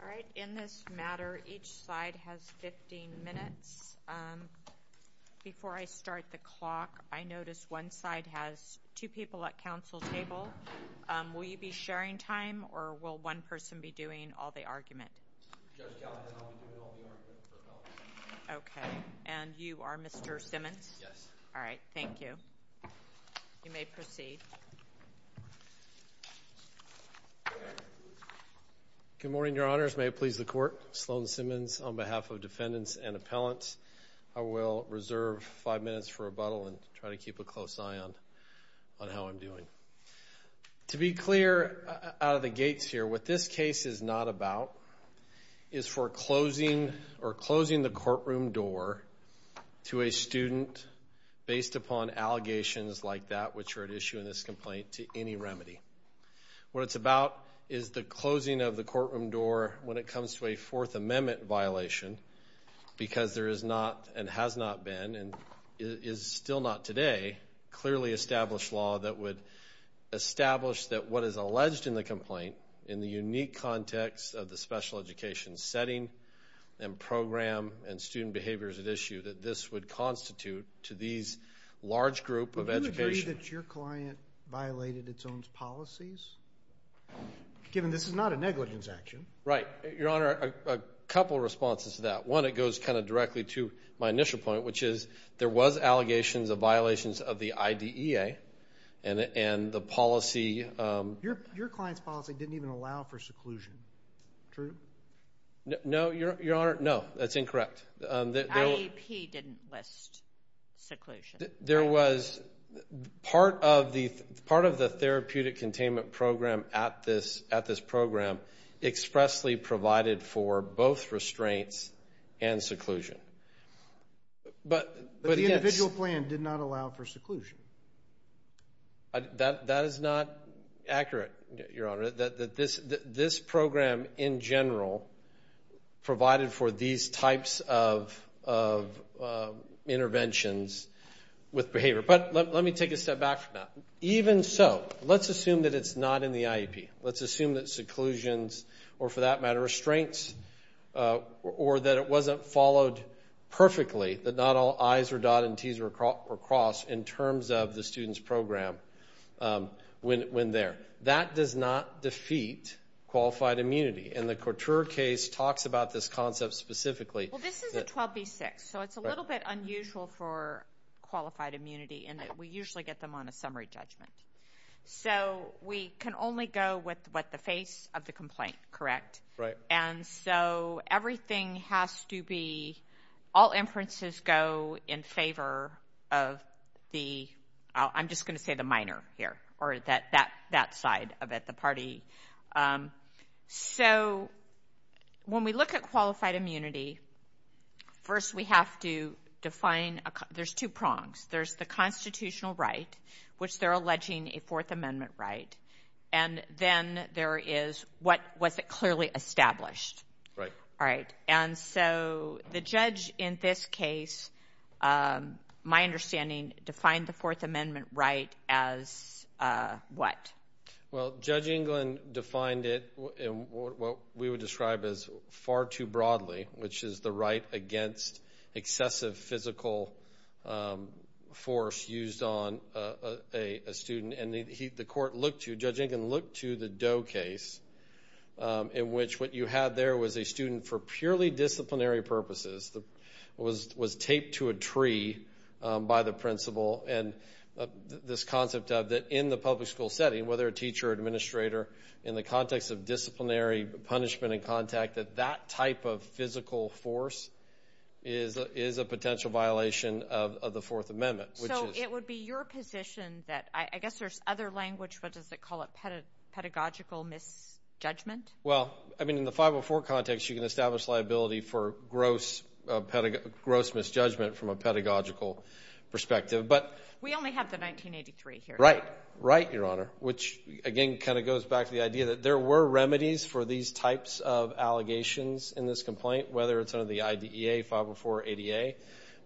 All right. In this matter, each side has 15 minutes. Before I start the clock, I notice one side has two people at council table. Will you be sharing time or will one person be doing all the argument? OK, and you are Mr. Simmons? Yes. All right. Thank you. You may proceed. Good morning, Your Honors. May it please the court. Sloan Simmons on behalf of defendants and appellants. I will reserve five minutes for rebuttal and try to keep a close eye on on how I'm doing to be clear out of the gates here. What this case is not about is foreclosing or closing the courtroom door to a student based upon allegations like that, which are at issue in this complaint to any remedy. What it's about is the closing of the courtroom door when it comes to a Fourth Amendment violation, because there is not and has not been and is still not today clearly established law that would establish that what is alleged in the complaint in the unique context of the special education setting and program and student behaviors at issue, that this would constitute to these large group of education. That your client violated its own policies, given this is not a negligence action. Right. Your Honor, a couple of responses to that. One, it goes kind of directly to my initial point, which is there was allegations of violations of the idea and the policy. Your your client's policy didn't even allow for seclusion. True. No, Your Honor. No, that's incorrect. The IEP didn't list seclusion. There was part of the part of the therapeutic containment program at this at this program expressly provided for both restraints and seclusion. But the individual plan did not allow for seclusion. That that is not accurate, Your Honor, that this this program in general provided for these types of of interventions with behavior. But let me take a step back from that. Even so, let's assume that it's not in the IEP. Let's assume that seclusions or for that matter, restraints or that it wasn't followed perfectly, that not all I's or dot and T's were crossed in terms of the student's program when there. That does not defeat qualified immunity. And the Couture case talks about this concept specifically. Well, this is a 12B6. So it's a little bit unusual for qualified immunity and we usually get them on a summary judgment. So we can only go with what the face of the complaint. Correct. Right. And so everything has to be all inferences go in favor of the I'm just going to say the minor here or that that that side of it, the party. So when we look at qualified immunity, first, we have to define there's two prongs. There's the constitutional right, which they're alleging a Fourth Amendment right. And then there is what was it clearly established. Right. All right. And so the judge in this case, my understanding defined the Fourth Amendment right as what? Well, Judge England defined it in what we would describe as far too broadly, which is the right against excessive physical force used on a student. And the court looked to judge and can look to the Doe case in which what you had there was a student for purely disciplinary purposes that was was taped to a tree by the principal. And this concept of that in the public school setting, whether a teacher or administrator in the context of disciplinary punishment and contact that that type of physical force is is a potential violation of the Fourth Amendment. So it would be your position that I guess there's other language. What does it call a pedagogical misjudgment? Well, I mean, in the five or four context, you can establish liability for gross, gross misjudgment from a pedagogical perspective. But we only have the 1983 here. Right. Right. Your honor, which again kind of goes back to the idea that there were remedies for these types of allegations in this complaint, whether it's under the IDEA, 504 ADA.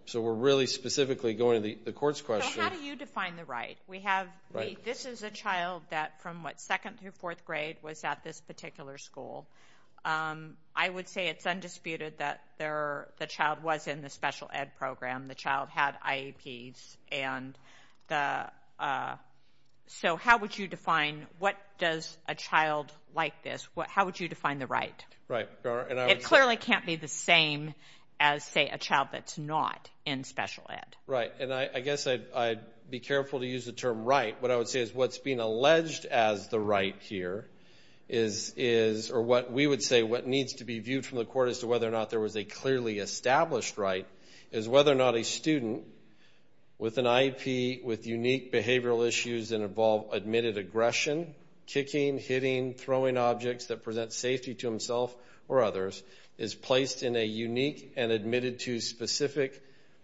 So we're really specifically going to the court's question. How do you define the right? We have right. This is a child that from what, second through fourth grade was at this particular school. I would say it's undisputed that there the child was in the special ed program. The child had IEPs and the so how would you define what does a child like this? How would you define the right? Right. And it clearly can't be the same as, say, a child that's not in special ed. Right. And I guess I'd be careful to use the term right. What I would say is what's being alleged as the right here is is or what we would say what needs to be viewed from the court as to whether or not there was a clearly established right is whether or not a student with an IEP, with unique behavioral issues that involve admitted aggression, kicking, hitting, throwing objects that present safety to himself or others is placed in a unique and admitted to specific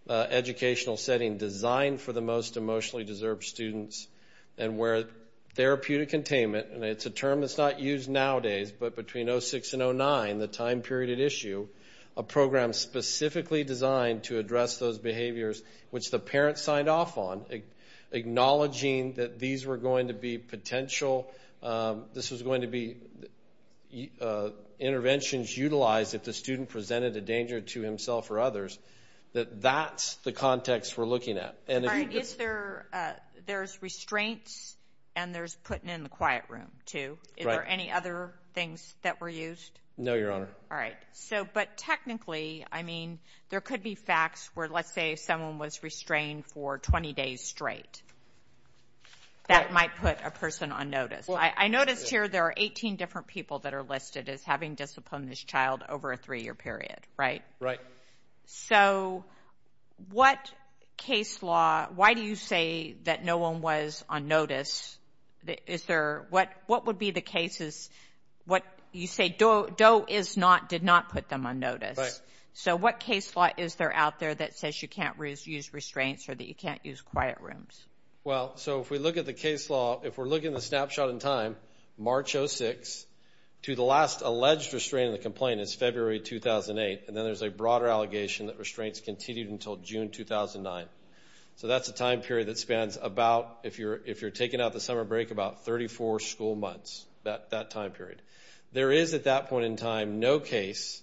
educational setting designed for the most emotionally deserved students and where therapeutic containment. And it's a term that's not used nowadays, but between 06 and 09, the time period at issue, a program specifically designed to address those behaviors, which the parents signed off on, acknowledging that these were going to be potential. This was going to be interventions utilized if the student presented a danger to himself or others, that that's the context we're looking at. And is there there's restraints and there's putting in the quiet room, too. Is there any other things that were used? No, Your Honor. All right. So but technically, I mean, there could be facts where, let's say someone was restrained for 20 days straight. That might put a person on notice. I noticed here there are 18 different people that are listed as having disciplined this child over a three year period. Right. Right. So what case law? Why do you say that no one was on notice? Is there what what would be the cases? What you say, DOE is not did not put them on notice. So what case law is there out there that says you can't use restraints or that you can't use quiet rooms? Well, so if we look at the case law, if we're looking at the snapshot in time, March 06 to the last alleged restraint in the complaint is February 2008. And then there's a broader allegation that restraints continued until June 2009. So that's a time period that spans about if you're if you're taking out the summer break, about 34 school months that that time period. There is at that point in time, no case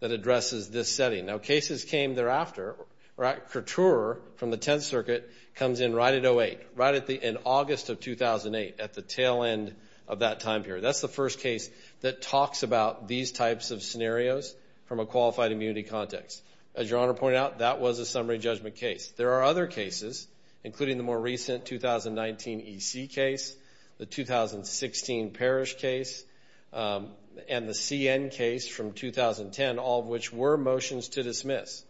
that addresses this setting. Now, cases came thereafter. Right. Couture from the 10th Circuit comes in right at 08, right at the end, August of 2008, at the tail end of that time period. That's the first case that talks about these types of scenarios from a qualified immunity context. As your honor pointed out, that was a summary judgment case. There are other cases, including the more recent 2019 EC case, the 2016 parish case and the CN case from 2010, all of which were motions to dismiss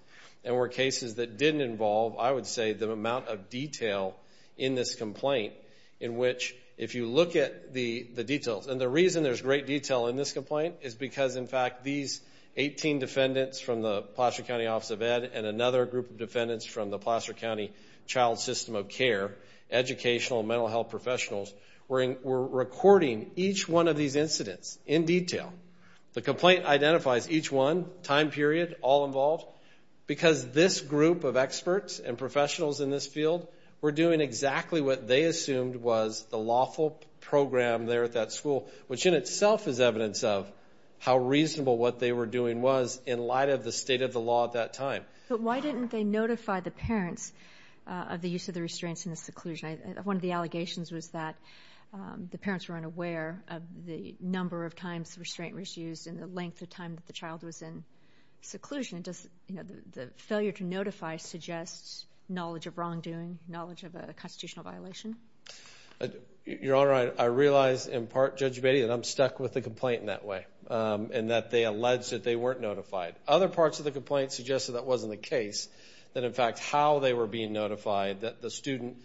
and were cases that didn't involve, I would say, the amount of detail in this complaint in which if you look at the the details and the reason there's great detail in this complaint is because, in fact, these 18 defendants from the Placer County Office of Ed and another group of defendants from the Placer County Child System of Care, educational and mental health professionals were recording each one of these incidents in detail. The complaint identifies each one, time period, all involved, because this group of experts and professionals in this field were doing exactly what they assumed was the lawful program there at that school, which in itself is evidence of how reasonable what they were doing was in light of the state of the law at that time. But why didn't they notify the parents of the use of the restraints in the seclusion? One of the allegations was that the parents were unaware of the number of times restraint was used in the length of time that the child was in seclusion. Does the failure to notify suggest knowledge of wrongdoing, knowledge of a constitutional violation? Your Honor, I realize in part, Judge Beatty, that I'm stuck with the complaint in that way and that they alleged that they weren't notified. Other parts of the complaint suggested that wasn't the case, that in fact how they were being notified, that the student...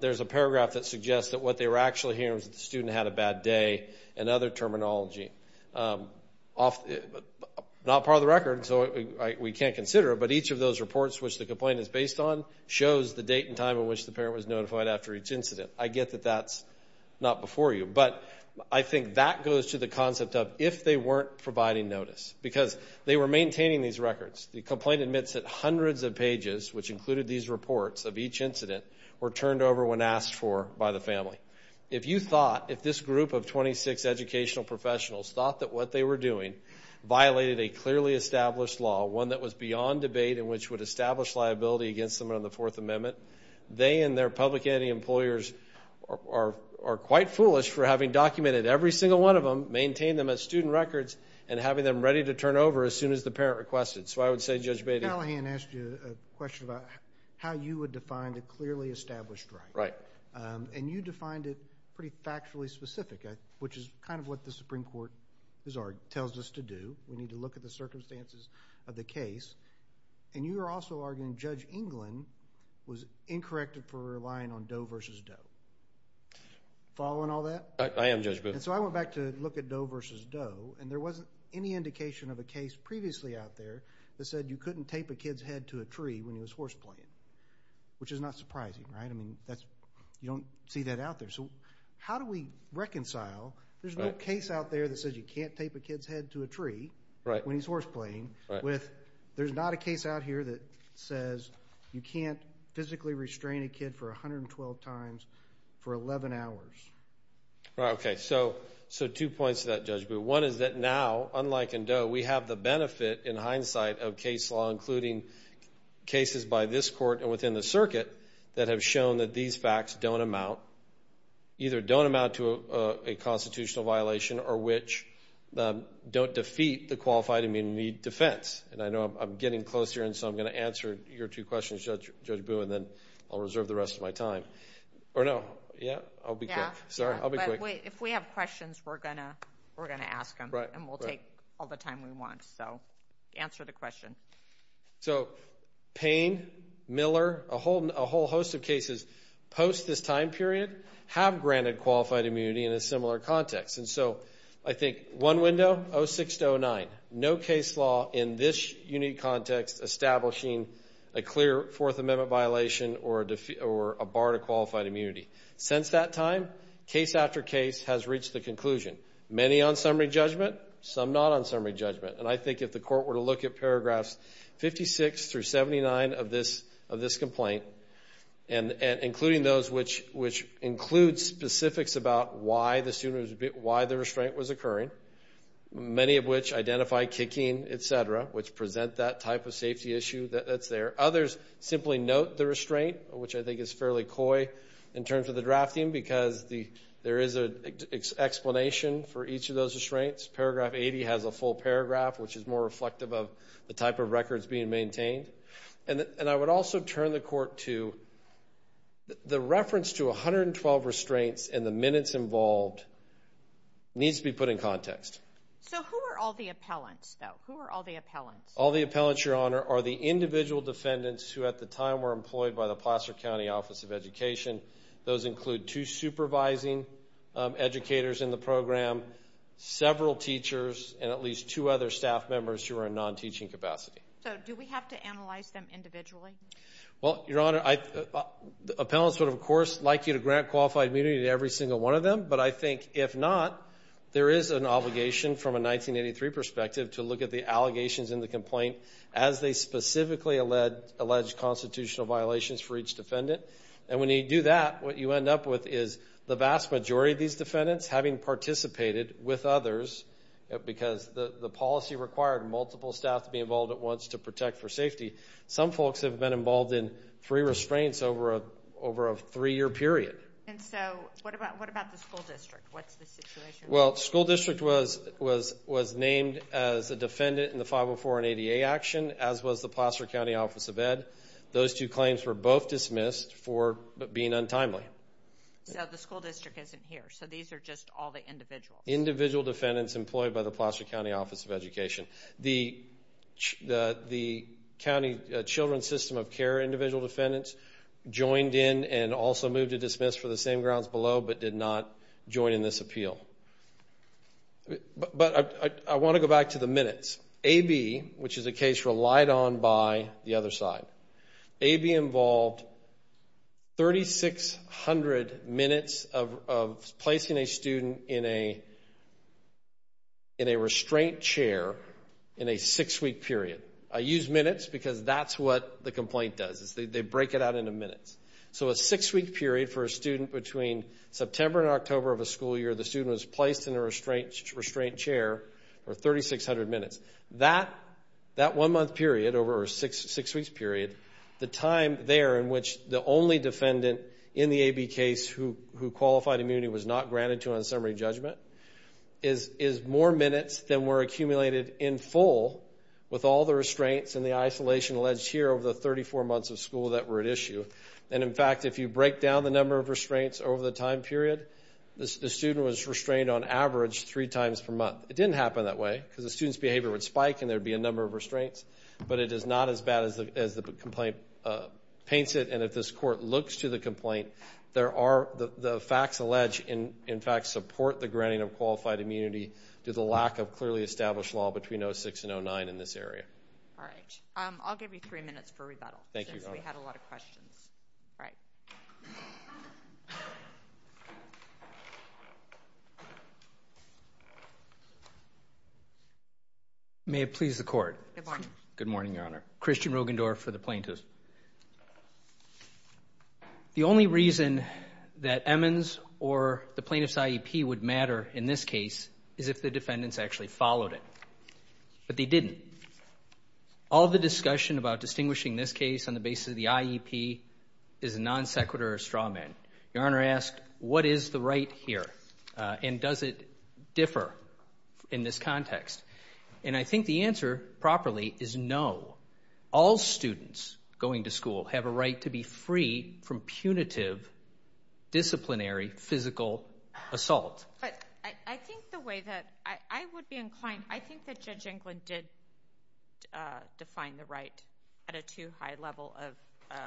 There's a paragraph that suggests that what they were actually hearing was that the student had a bad day and other terminology. Not part of the record, so we can't consider it, but each of those reports which the complaint is based on shows the date and time in which the parent was notified after each incident. I get that that's not before you, but I think that goes to the concept of if they weren't providing notice, because they were maintaining these records. The complaint admits that hundreds of pages, which included these reports of each incident, were turned over when asked for by the family. If you thought, if this group of 26 educational professionals thought that what they were doing violated a clearly established law, one that was beyond debate and which would establish liability against them under the Fourth Amendment, they and their public entity employers are quite foolish for having documented every single one of them, maintained them as student records, and having them ready to turn over as soon as the parent requested. So I would say, Judge Beatty... Mr. Callahan asked you a question about how you would define a clearly established right. Right. And you defined it pretty factually specific, which is kind of what the Supreme Court tells us to do. We need to look at the circumstances of the case. And you were also arguing Judge England was incorrect for relying on Doe versus Doe. Following all that? I am, Judge Booth. And so I went back to look at Doe versus Doe, and there wasn't any indication of a case previously out there that said you couldn't tape a kid's head to a tree when he was horse playing, which is not surprising, right? I mean, you don't see that out there. So how do we reconcile there's no case out there that says you can't tape a kid's head to a tree when he's horse playing with there's not a case out here that says you can't physically restrain a kid for 112 times for 11 hours. Okay, so two points to that, Judge Booth. One is that now, unlike in Doe, we have the benefit in hindsight of case law, including cases by this court and within the circuit that have shown that these facts don't amount, either don't amount to a constitutional violation or which don't defeat the qualified immunity defense. And I know I'm getting close here, and so I'm going to answer your two questions, Judge Booth, and then I'll reserve the rest of my time. Or no, yeah? Sorry, I'll be quick. If we have questions, we're going to ask them, and we'll take all the time we want. So answer the question. So Payne, Miller, a whole host of cases post this time period have granted qualified immunity in a similar context. And so I think one window, 06 to 09, no case law in this unique context establishing a clear Fourth Amendment violation or a bar to qualified immunity. Since that time, case after case has reached the conclusion. Many on summary judgment, some not on summary judgment. And I think if the court were to look at paragraphs 56 through 79 of this complaint, and including those which include specifics about why the restraint was occurring, many of which identify kicking, et cetera, which present that type of safety issue that's there. Others simply note the restraint, which I think is fairly coy in terms of the drafting because there is an explanation for each of those restraints. Paragraph 80 has a full paragraph, which is more reflective of the type of records being maintained. And I would also turn the court to the reference to 112 restraints and the minutes involved needs to be put in context. So who are all the appellants, though? Who are all the appellants? All the appellants, Your Honor, are the individual defendants who at the time were employed by the Placer County Office of Education. Those include two supervising educators in the program, several teachers, and at least two other staff members who are in non-teaching capacity. So do we have to analyze them individually? Well, Your Honor, appellants would, of course, like you to grant qualified immunity to every single one of them, but I think if not, there is an obligation from a 1983 perspective to look at the allegations in the complaint as they specifically allege constitutional violations for each defendant. And when you do that, what you end up with is the vast majority of these defendants, having participated with others, because the policy required multiple staff to be involved at once to protect for safety, some folks have been involved in free restraints over a three-year period. And so what about the school district? What's the situation? Well, school district was named as a defendant in the 504 and ADA action, as was the Placer County Office of Ed. Those two claims were both dismissed for being untimely. So the school district isn't here, so these are just all the individuals? Individual defendants employed by the Placer County Office of Education. The County Children's System of Care individual defendants joined in and also moved to dismiss for the same grounds below, but did not join in this appeal. But I want to go back to the minutes. AB, which is a case relied on by the other side, AB involved 3,600 minutes of placing a student in a restraint chair in a six-week period. I use minutes because that's what the complaint does, is they break it out into minutes. So a six-week period for a student between September and October of a school year, the student was placed in a restraint chair for 3,600 minutes. That one-month period over a six-weeks period, the time there in which the only defendant in the AB case who qualified immunity was not granted to on summary judgment is more minutes than were accumulated in full with all the restraints and the isolation alleged here over the 34 months of school that were at issue. And in fact, if you break down the number of restraints over the time period, the student was restrained on average three times per month. It didn't happen that way, because the student's behavior would spike and there'd be a number of restraints, but it is not as bad as the complaint paints it. And if this court looks to the complaint, there are the facts alleged in fact support the granting of qualified immunity due to the lack of clearly established law between 06 and 09 in this area. All right, I'll give you three minutes for rebuttal. Thank you. Since we had a lot of questions. All right. Thank you. May it please the court. Good morning. Good morning, Your Honor. Christian Rogendorff for the plaintiffs. The only reason that Emmons or the plaintiff's IEP would matter in this case is if the defendants actually followed it, but they didn't. All of the discussion about distinguishing this case on the basis of the IEP is a non sequitur of straw man. Your Honor asked, what is the right here? And does it differ in this context? And I think the answer properly is no. All students going to school have a right to be free from punitive, disciplinary, physical assault. But I think the way that I would be inclined, I think that Judge Englund did define the right at a too high level of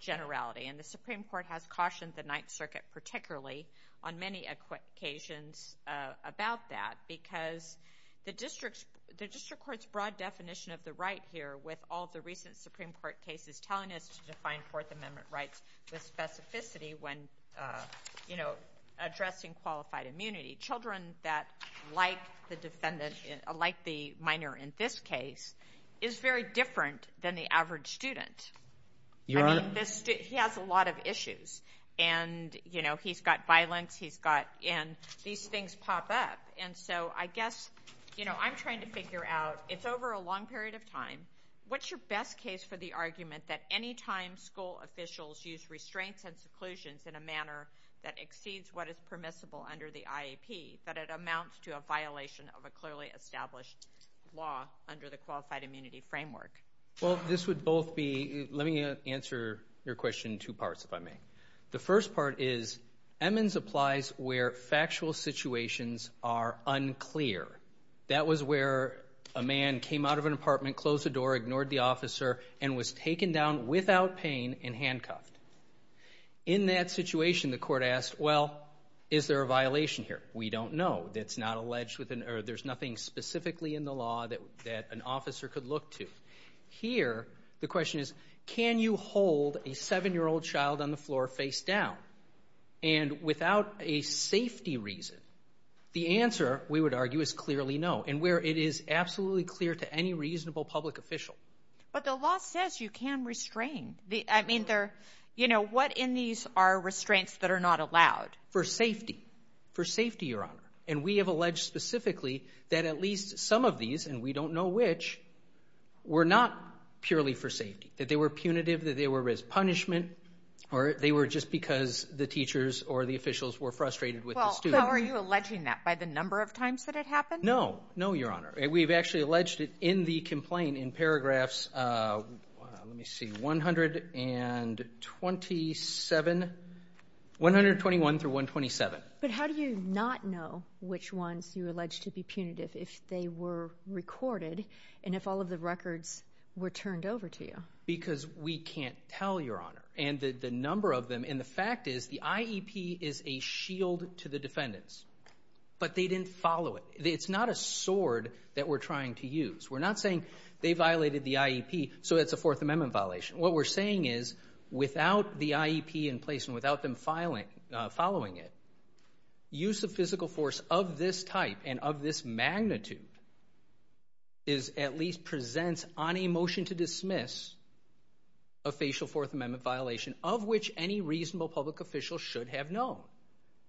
generality. And the Supreme Court has cautioned the Ninth Circuit particularly on many occasions about that. Because the District Court's broad definition of the right here with all the recent Supreme Court cases telling us to define Fourth Amendment rights with specificity when addressing qualified immunity. Children that like the minor in this case is very different than the average student. Your Honor. He has a lot of issues. And he's got violence, he's got, and these things pop up. And so I guess, I'm trying to figure out, it's over a long period of time. What's your best case for the argument that anytime school officials use restraints and seclusions in a manner that exceeds what is permissible under the IEP, that it amounts to a violation of a clearly established law under the Qualified Immunity Framework? Well, this would both be, let me answer your question in two parts, if I may. The first part is, Emmons applies where factual situations are unclear. That was where a man came out of an apartment, closed the door, ignored the officer, and was taken down without pain and handcuffed. In that situation, the court asked, well, is there a violation here? We don't know. That's not alleged, or there's nothing specifically in the law that an officer could look to. Here, the question is, can you hold a seven-year-old child on the floor face down? And without a safety reason, the answer, we would argue, is clearly no, and where it is absolutely clear to any reasonable public official. But the law says you can restrain. I mean, what in these are restraints that are not allowed? For safety, for safety, Your Honor. And we have alleged specifically that at least some of these, and we don't know which, were not purely for safety, that they were punitive, that they were as punishment, or they were just because the teachers or the officials were frustrated with the student. Well, so are you alleging that by the number of times that it happened? No, no, Your Honor. We've actually alleged it in the complaint in paragraphs, let me see, 127, 121 through 127. But how do you not know which ones you allege to be punitive if they were recorded, and if all of the records were turned over to you? Because we can't tell, Your Honor, and the number of them, and the fact is the IEP is a shield to the defendants, but they didn't follow it. It's not a sword that we're trying to use. We're not saying they violated the IEP, so it's a Fourth Amendment violation. What we're saying is, without the IEP in place, and without them following it, use of physical force of this type and of this magnitude is at least presents on a motion to dismiss a facial Fourth Amendment violation of which any reasonable public official should have known.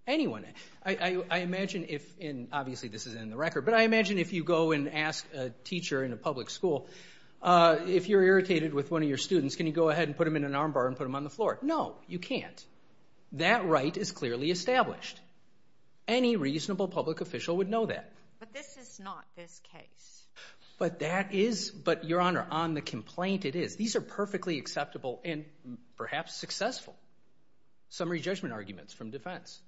Anyone, I imagine if, and obviously this is in the record, but I imagine if you go and ask a teacher in a public school, if you're irritated with one of your students, can you go ahead and put them in an armbar and put them on the floor? No, you can't. That right is clearly established. Any reasonable public official would know that. But this is not this case. But that is, but Your Honor, on the complaint it is. These are perfectly acceptable and perhaps successful summary judgment arguments from defense.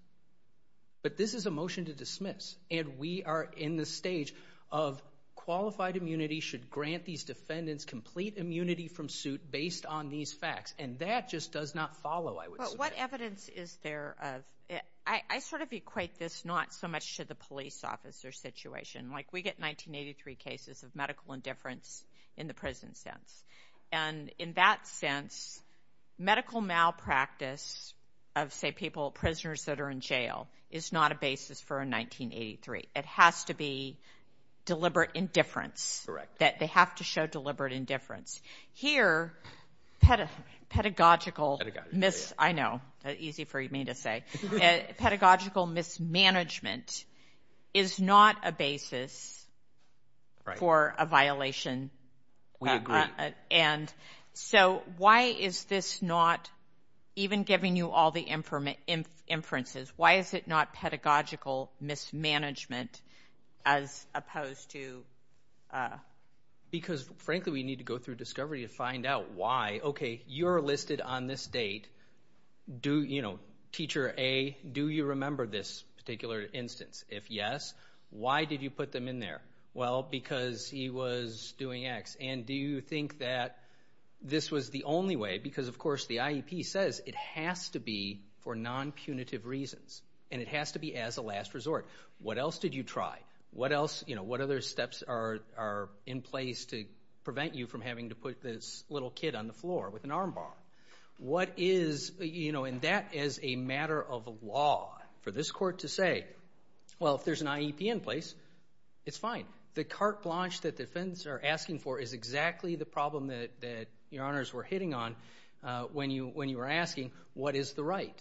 But this is a motion to dismiss, and we are in the stage of qualified immunity should grant these defendants complete immunity from suit based on these facts, and that just does not follow, I would say. But what evidence is there of, I sort of equate this not so much to the police officer situation. Like we get 1983 cases of medical indifference in the prison sense. And in that sense, medical malpractice of say people, prisoners that are in jail is not a basis for a 1983. It has to be deliberate indifference. That they have to show deliberate indifference. Here, pedagogical, I know, easy for me to say. Pedagogical mismanagement is not a basis for a violation. We agree. And so why is this not, even giving you all the inferences, why is it not pedagogical mismanagement as opposed to? Because frankly, we need to go through discovery to find out why. Okay, you're listed on this date. Do, you know, teacher A, do you remember this particular instance? If yes, why did you put them in there? Well, because he was doing X. And do you think that this was the only way? Because of course the IEP says it has to be for non-punitive reasons. And it has to be as a last resort. What else did you try? What else, you know, what other steps are in place to prevent you from having to put this little kid on the floor with an armbar? What is, you know, and that is a matter of law for this court to say, well, if there's an IEP in place, it's fine. The carte blanche that defense are asking for is exactly the problem that your honors were hitting on when you were asking, what is the right?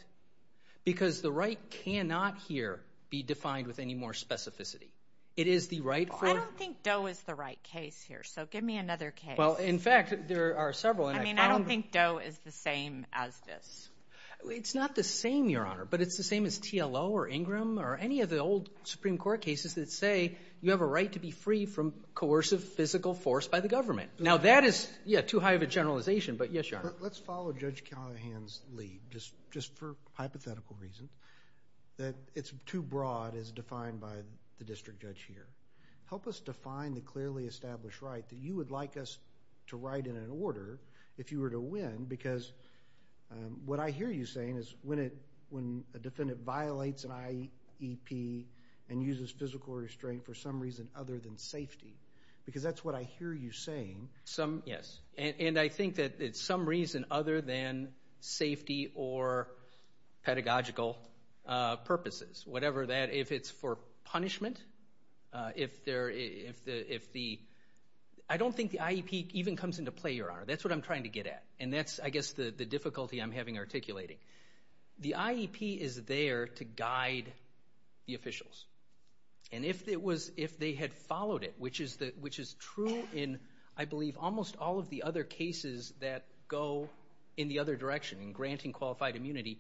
Because the right cannot here be defined with any more specificity. It is the right for- Well, I don't think Doe is the right case here. So give me another case. Well, in fact, there are several. I mean, I don't think Doe is the same as this. It's not the same, your honor, but it's the same as TLO or Ingram or any of the old Supreme Court cases that say you have a right to be free from coercive physical force by the government. Now that is, yeah, too high of a generalization, but yes, your honor. Let's follow Judge Callahan's lead, just for hypothetical reasons, that it's too broad as defined by the district judge here. Help us define the clearly established right that you would like us to write in an order if you were to win, because what I hear you saying is when a defendant violates an IEP and uses physical restraint for some reason other than safety, because that's what I hear you saying. Some, yes, and I think that it's some reason other than safety or pedagogical purposes, whatever that, if it's for punishment, I don't think the IEP even comes into play, your honor. That's what I'm trying to get at, and that's, I guess, the difficulty I'm having articulating. The IEP is there to guide the officials, and if they had followed it, which is true in, I believe, almost all of the other cases that go in the other direction, in granting qualified immunity,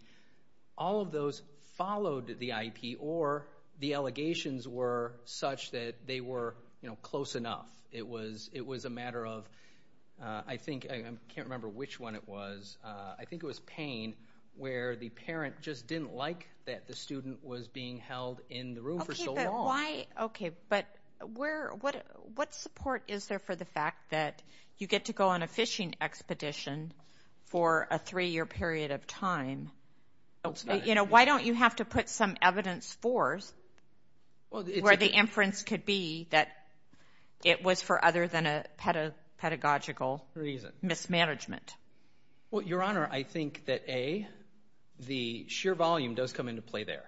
all of those followed the IEP, or the allegations were such that they were close enough. It was a matter of, I think, I can't remember which one it was. I think it was Payne, where the parent just didn't like that the student was being held in the room for so long. Okay, but what support is there for the fact that you get to go on a fishing expedition for a three-year period of time? Why don't you have to put some evidence forth where the inference could be that it was for other than a pedagogical mismanagement? Well, your honor, I think that, A, the sheer volume does come into play there.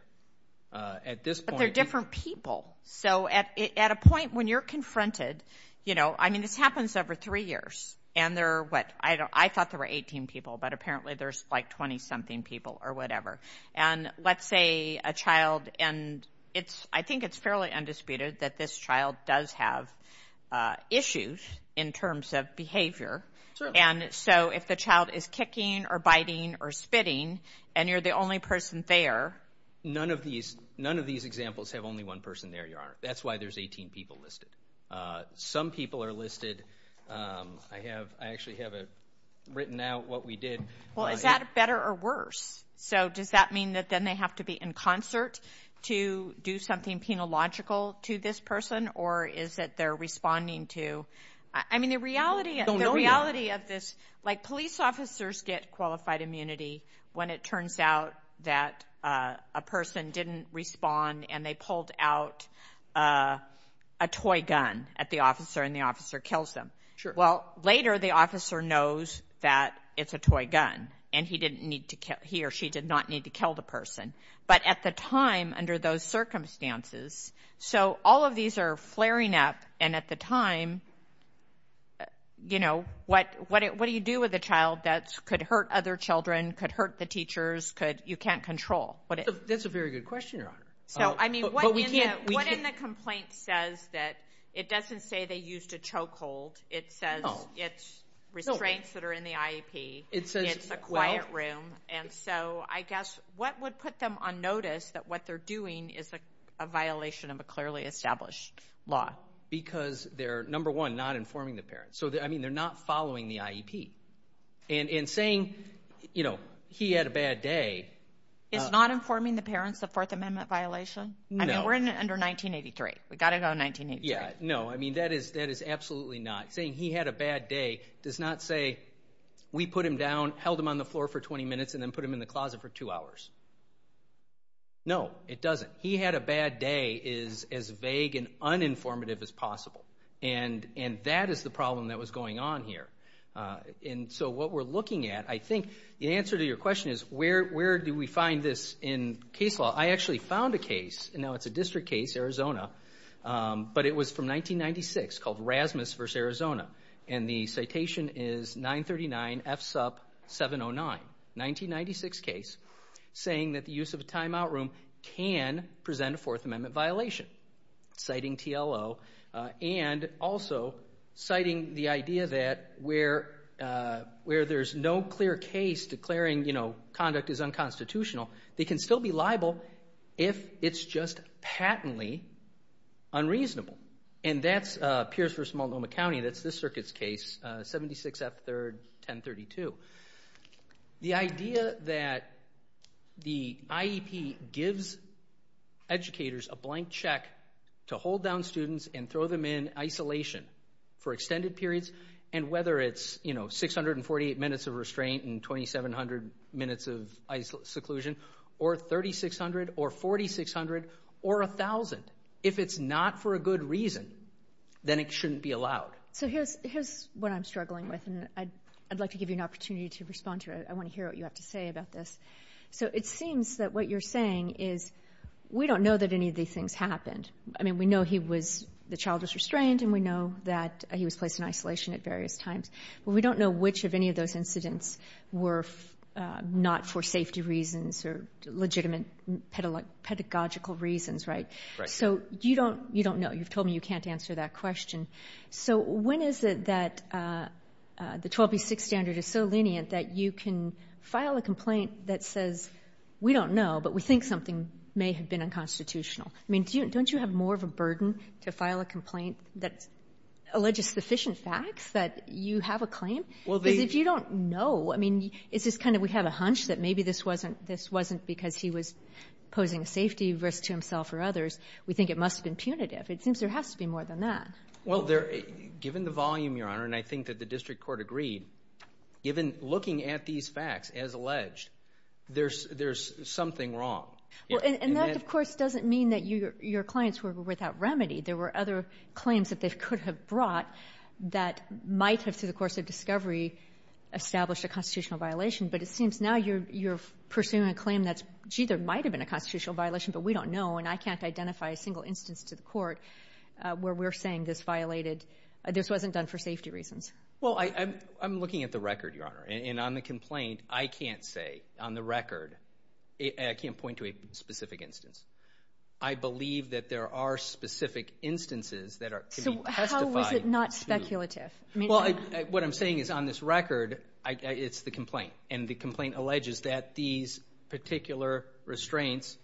At this point- But they're different people, so at a point when you're confronted, you know, I mean, this happens over three years, and there are, what, I thought there were 18 people, but apparently there's like 20-something people, or whatever, and let's say a child, and I think it's fairly undisputed that this child does have issues in terms of behavior, and so if the child is kicking, or biting, or spitting, and you're the only person there- None of these examples have only one person there, your honor. That's why there's 18 people listed. Some people are listed. I have, I actually have it written out what we did. Well, is that better or worse? So does that mean that then they have to be in concert to do something penological to this person, or is it they're responding to, I mean, the reality of this, like police officers get qualified immunity when it turns out that a person didn't respond, and they pulled out a toy gun at the officer, and the officer kills them. Well, later the officer knows that it's a toy gun, and he or she did not need to kill the person, but at the time, under those circumstances, so all of these are flaring up, and at the time, what do you do with a child that could hurt other children, could hurt the teachers, you can't control? That's a very good question, your honor. So, I mean, what in the complaint says that it doesn't say they used a chokehold, it says it's restraints that are in the IEP, it's a quiet room, and so I guess, what would put them on notice that what they're doing is a violation of a clearly established law? Because they're, number one, not informing the parents. So, I mean, they're not following the IEP. And in saying, you know, he had a bad day. Is not informing the parents a Fourth Amendment violation? No. I mean, we're under 1983, we gotta go 1983. Yeah, no, I mean, that is absolutely not. Saying he had a bad day does not say, we put him down, held him on the floor for 20 minutes, and then put him in the closet for two hours. No, it doesn't. He had a bad day is as vague and uninformative as possible. And that is the problem that was going on here. And so what we're looking at, I think the answer to your question is, where do we find this in case law? I actually found a case, and now it's a district case, Arizona. But it was from 1996, called Rasmus v. Arizona. And the citation is 939 FSUP 709, 1996 case, saying that the use of a timeout room can present a Fourth Amendment violation, citing TLO. And also citing the idea that where there's no clear case declaring conduct is unconstitutional, they can still be liable if it's just patently unreasonable. And that's Pierce v. Multnomah County, that's this circuit's case, 76 F. 3rd, 1032. The idea that the IEP gives educators a blank check to hold down students and throw them in isolation for extended periods, and whether it's 648 minutes of restraint and 2,700 minutes of seclusion, or 3,600 or 4,600 or 1,000. If it's not for a good reason, then it shouldn't be allowed. So here's what I'm struggling with, and I'd like to give you an opportunity to respond to it. I wanna hear what you have to say about this. So it seems that what you're saying is, we don't know that any of these things happened. I mean, we know the child was restrained, and we know that he was placed in isolation at various times, but we don't know which of any of those incidents were not for safety reasons or legitimate pedagogical reasons, right? So you don't know, you've told me you can't answer that question. So when is it that the 12B6 standard is so lenient that you can file a complaint that says, we don't know, but we think something may have been unconstitutional? I mean, don't you have more of a burden to file a complaint that alleges sufficient facts, that you have a claim? Because if you don't know, I mean, it's just kind of, we have a hunch that maybe this wasn't because he was posing a safety risk to himself or others. We think it must have been punitive. It seems there has to be more than that. Well, given the volume, Your Honor, and I think that the district court agreed, given looking at these facts as alleged, there's something wrong. Well, and that, of course, doesn't mean that your clients were without remedy. There were other claims that they could have brought that might have, through the course of discovery, established a constitutional violation, but it seems now you're pursuing a claim that, gee, there might've been a constitutional violation, but we don't know, and I can't identify a single instance to the court where we're saying this violated, this wasn't done for safety reasons. Well, I'm looking at the record, Your Honor, and on the complaint, I can't say on the record, I can't point to a specific instance. I believe that there are specific instances that can be testified to. So how is it not speculative? Well, what I'm saying is, on this record, it's the complaint, and the complaint alleges that these particular restraints,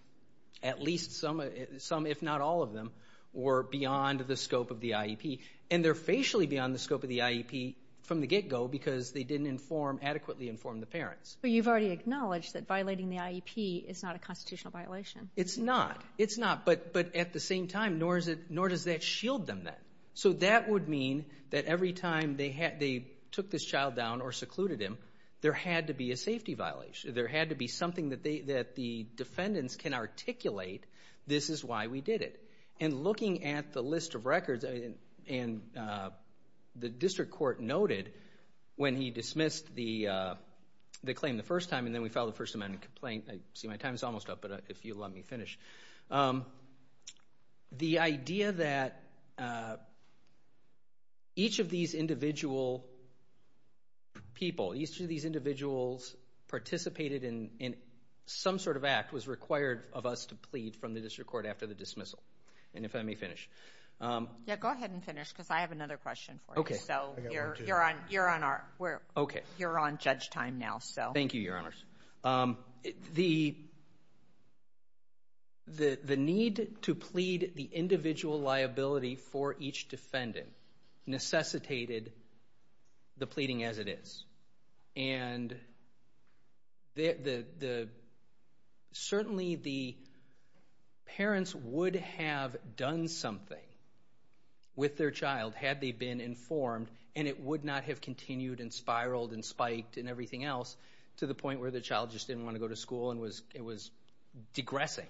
at least some, if not all of them, were beyond the scope of the IEP, and they're facially beyond the scope of the IEP from the get-go, because they didn't adequately inform the parents. But you've already acknowledged that violating the IEP is not a constitutional violation. It's not, it's not, but at the same time, nor does that shield them then. So that would mean that every time they took this child down or secluded him, there had to be a safety violation. There had to be something that the defendants can articulate, this is why we did it. And looking at the list of records, and the district court noted, when he dismissed the claim the first time, and then we filed the First Amendment complaint, I see my time's almost up, but if you'll let me finish. The idea that each of these individual people, each of these individuals participated in some sort of act was required of us to plead from the district court after the dismissal. And if I may finish. Yeah, go ahead and finish, because I have another question for you. So you're on our, you're on judge time now, so. Thank you, Your Honors. The need to plead the individual liability for each defendant necessitated the pleading as it is. And certainly the parents would have done something with their child had they been informed, and it would not have continued, and spiraled, and spiked, and everything else, to the point where the child just didn't wanna go to school, and it was digressing,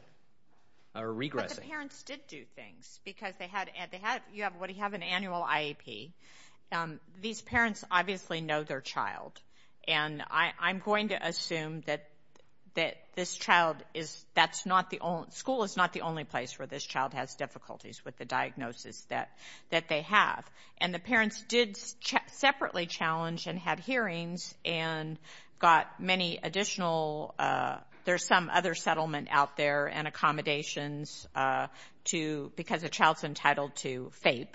or regressing. But the parents did do things, because they had, you have an annual IAP. These parents obviously know their child, and I'm going to assume that this child is, that's not the only, school is not the only place where this child has difficulties with the diagnosis that they have. And the parents did separately challenge, and had hearings, and got many additional, there's some other settlement out there, and accommodations to, because a child's entitled to FAPE.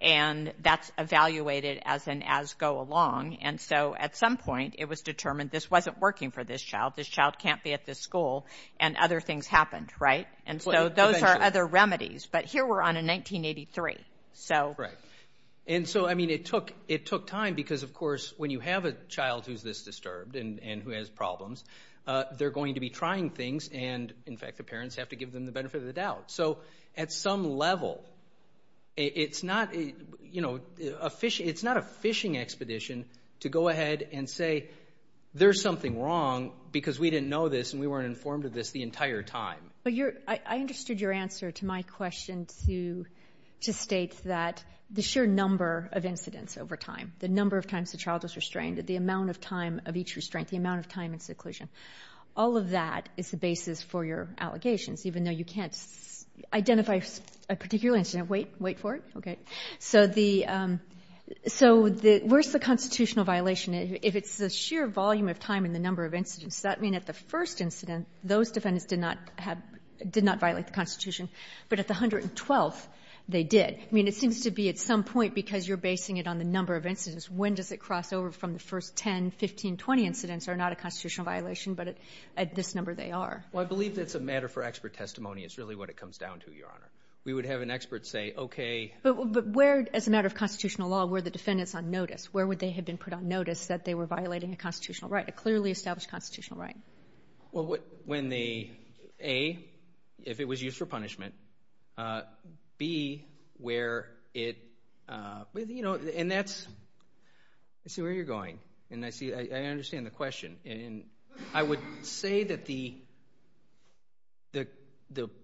And that's evaluated as an as go along. And so at some point it was determined this wasn't working for this child. This child can't be at this school, and other things happened, right? And so those are other remedies, but here we're on a 1983, so. Right, and so I mean it took time, because of course when you have a child who's this disturbed, and who has problems, they're going to be trying things, and in fact the parents have to give them the benefit of the doubt. So at some level, it's not a fishing expedition to go ahead and say, there's something wrong, because we didn't know this, and we weren't informed of this the entire time. I understood your answer to my question to state that the sheer number of incidents over time, the number of times the child was restrained, the amount of time of each restraint, the amount of time in seclusion, all of that is the basis for your allegations, even though you can't identify a particular incident, wait for it, okay? So where's the constitutional violation? If it's the sheer volume of time, and the number of incidents, does that mean at the first incident, those defendants did not violate the Constitution, but at the 112th, they did. I mean, it seems to be at some point, because you're basing it on the number of incidents, when does it cross over from the first 10, 15, 20 incidents are not a constitutional violation, but at this number, they are. Well, I believe that's a matter for expert testimony. It's really what it comes down to, Your Honor. We would have an expert say, okay. But where, as a matter of constitutional law, were the defendants on notice? Where would they have been put on notice that they were violating a constitutional right, a clearly established constitutional right? Well, when they, A, if it was used for punishment, B, where it, you know, and that's, I see where you're going, and I see, I understand the question. And I would say that the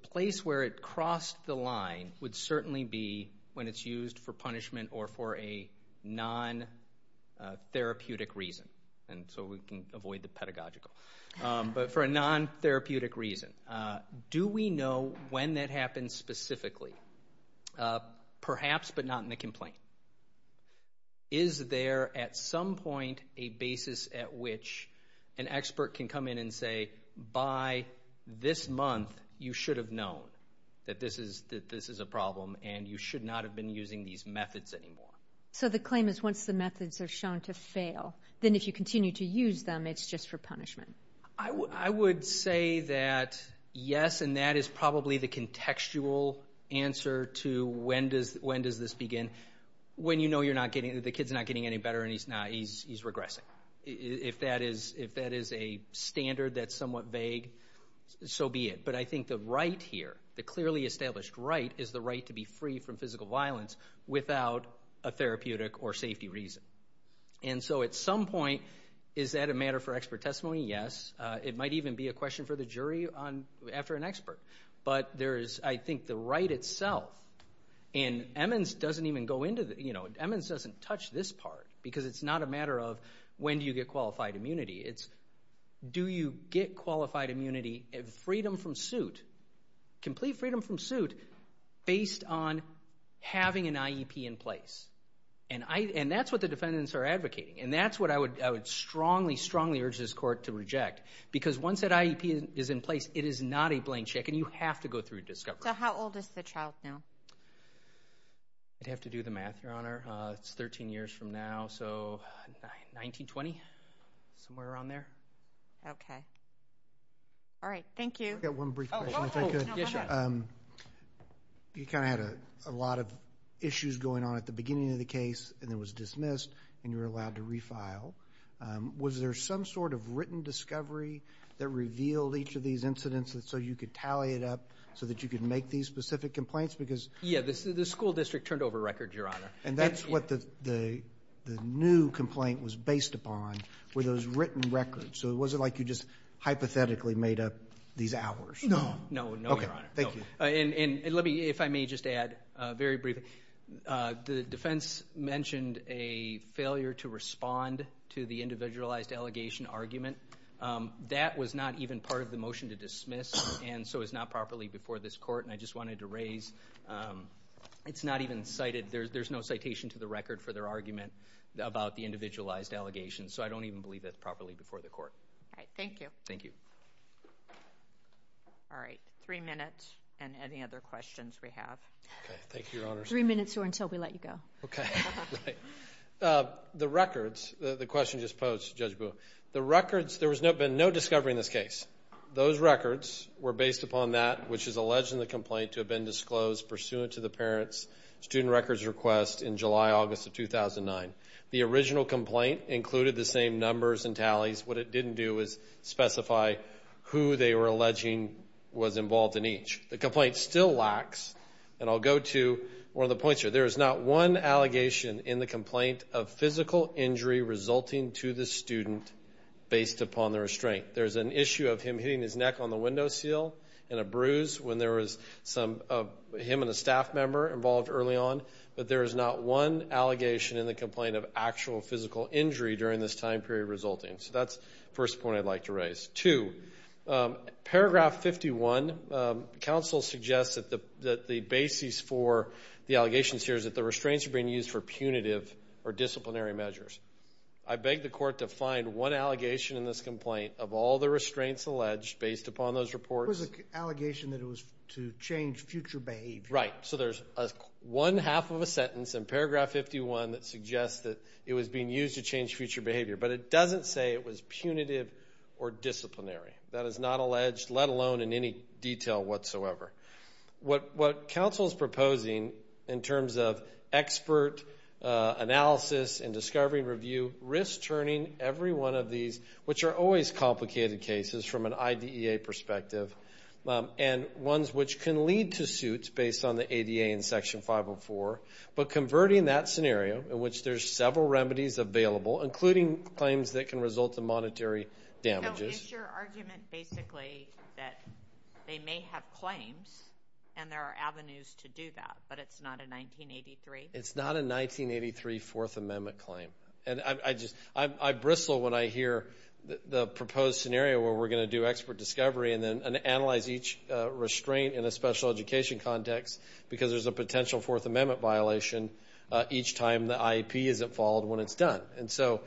place where it crossed the line would certainly be when it's used for punishment or for a non-therapeutic reason. And so we can avoid the pedagogical. But for a non-therapeutic reason. Do we know when that happened specifically? Perhaps, but not in a complaint. Is there, at some point, a basis at which an expert can come in and say, by this month, you should have known that this is a problem and you should not have been using these methods anymore. So the claim is once the methods are shown to fail, then if you continue to use them, it's just for punishment. I would say that yes, and that is probably the contextual answer to when does this begin? When you know you're not getting, the kid's not getting any better and he's not, he's regressing. If that is a standard that's somewhat vague, so be it. But I think the right here, the clearly established right, is the right to be free from physical violence without a therapeutic or safety reason. And so at some point, is that a matter for expert testimony? Yes. It might even be a question for the jury after an expert. But there is, I think, the right itself. And Emmons doesn't even go into the, Emmons doesn't touch this part because it's not a matter of when do you get qualified immunity. It's do you get qualified immunity, freedom from suit, complete freedom from suit, based on having an IEP in place. And that's what the defendants are advocating. And that's what I would strongly, strongly urge this court to reject. Because once that IEP is in place, it is not a blank check and you have to go through a discovery. So how old is the child now? I'd have to do the math, Your Honor. It's 13 years from now, so 1920, somewhere around there. Okay. All right, thank you. I've got one brief question, if I could. Yes, sir. You kind of had a lot of issues going on at the beginning of the case and it was dismissed and you were allowed to refile. Was there some sort of written discovery that revealed each of these incidents so you could tally it up so that you could make these specific complaints? Because- Yeah, the school district turned over records, Your Honor. And that's what the new complaint was based upon, were those written records. So it wasn't like you just hypothetically made up these hours. No. No, no, Your Honor. Okay, thank you. And let me, if I may just add very briefly, the defense mentioned a failure to respond to the individualized allegation argument. That was not even part of the motion to dismiss and so it's not properly before this court. And I just wanted to raise, it's not even cited. There's no citation to the record for their argument about the individualized allegation. So I don't even believe that's properly before the court. All right, thank you. Thank you. All right, three minutes. And any other questions we have? Okay, thank you, Your Honor. Three minutes or until we let you go. Okay, right. The records, the question just posed to Judge Booh. The records, there has been no discovery in this case. Those records were based upon that which is alleged in the complaint to have been disclosed pursuant to the parent's student records request in July, August of 2009. The original complaint included the same numbers and tallies. What it didn't do was specify who they were alleging was involved in each. The complaint still lacks, and I'll go to one of the points here. There is not one allegation in the complaint of physical injury resulting to the student based upon the restraint. There's an issue of him hitting his neck on the window seal and a bruise when there was some of him and a staff member involved early on. But there is not one allegation in the complaint of actual physical injury during this time period resulting. So that's the first point I'd like to raise. Two, paragraph 51, counsel suggests that the basis for the allegations here is that the restraints are being used for punitive or disciplinary measures. I beg the court to find one allegation in this complaint of all the restraints alleged based upon those reports. It was an allegation that it was to change future behavior. Right, so there's one half of a sentence in paragraph 51 that suggests that it was being used to change future behavior. But it doesn't say it was punitive or disciplinary. That is not alleged, let alone in any detail whatsoever. What counsel's proposing in terms of expert analysis and discovery review, risk turning every one of these, which are always complicated cases from an IDEA perspective, and ones which can lead to suits based on the ADA in section 504, but converting that scenario in which there's several remedies available, including claims that can result in monetary damages. So it's your argument basically that they may have claims and there are avenues to do that, but it's not a 1983? It's not a 1983 Fourth Amendment claim. And I just, I bristle when I hear the proposed scenario where we're gonna do expert discovery and then analyze each restraint in a special education context because there's a potential Fourth Amendment violation each time the IEP isn't followed when it's done. And so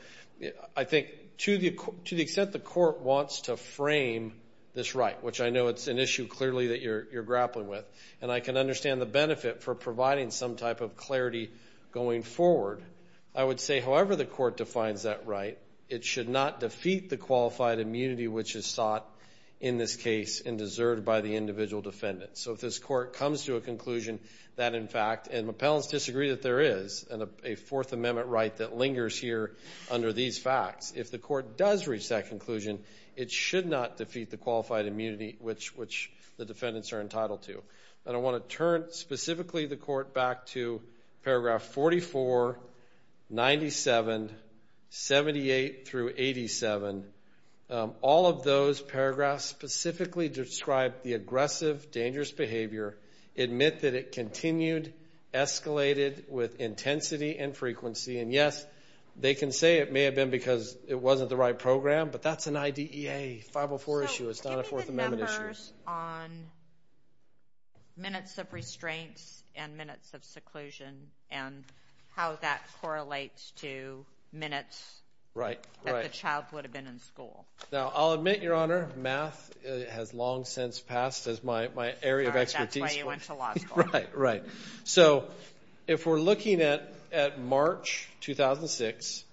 I think to the extent the court wants to frame this right, which I know it's an issue clearly that you're grappling with, and I can understand the benefit for providing some type of clarity going forward, I would say however the court defines that right, it should not defeat the qualified immunity which is sought in this case and deserved by the individual defendant. So if this court comes to a conclusion that in fact, and my panelists disagree that there is a Fourth Amendment right that lingers here under these facts, if the court does reach that conclusion, it should not defeat the qualified immunity which the defendants are entitled to. And I wanna turn specifically the court back to paragraph 44, 97, 78 through 87. All of those paragraphs specifically describe the aggressive, dangerous behavior, admit that it continued, escalated with intensity and frequency. And yes, they can say it may have been because it wasn't the right program, but that's an IDEA 504 issue, it's not a Fourth Amendment issue. So admitted members on minutes of restraints and minutes of seclusion and how that correlates to minutes that the child would have been in school. Now I'll admit, Your Honor, math has long since passed as my area of expertise. That's why you went to law school. Right, right. So if we're looking at March 2006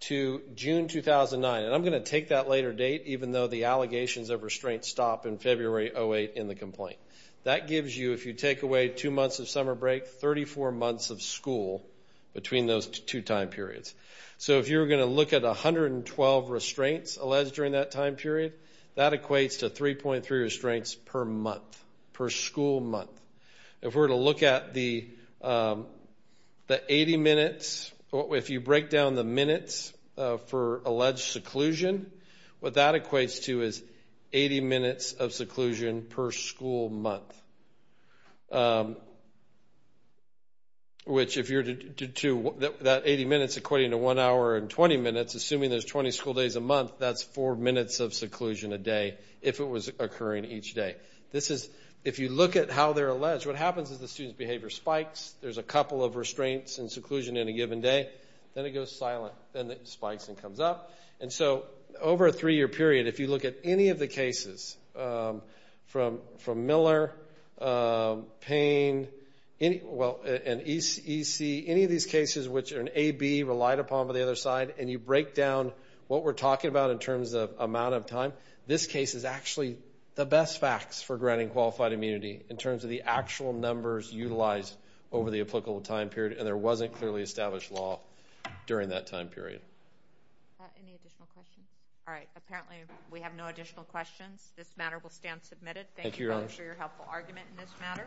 to June 2009, and I'm gonna take that later date even though the allegations of restraint stop in February 08 in the complaint. That gives you, if you take away two months of summer break, 34 months of school between those two time periods. So if you're gonna look at 112 restraints alleged during that time period, that equates to 3.3 restraints per month, per school month. If we're to look at the 80 minutes, if you break down the minutes for alleged seclusion, what that equates to is 80 minutes of seclusion per school month. Which if you're to, that 80 minutes equating to one hour and 20 minutes, assuming there's 20 school days a month, that's four minutes of seclusion a day if it was occurring each day. This is, if you look at how they're alleged, what happens is the student's behavior spikes. There's a couple of restraints and seclusion in a given day. Then it goes silent. Then it spikes and comes up. And so over a three year period, if you look at any of the cases from Miller, Payne, and EC, any of these cases which an AB relied upon by the other side, and you break down what we're talking about in terms of amount of time, this case is actually the best facts for granting qualified immunity in terms of the actual numbers utilized over the applicable time period. And there wasn't clearly established law during that time period. Any additional questions? All right, apparently we have no additional questions. This matter will stand submitted. Thank you for your helpful argument in this matter.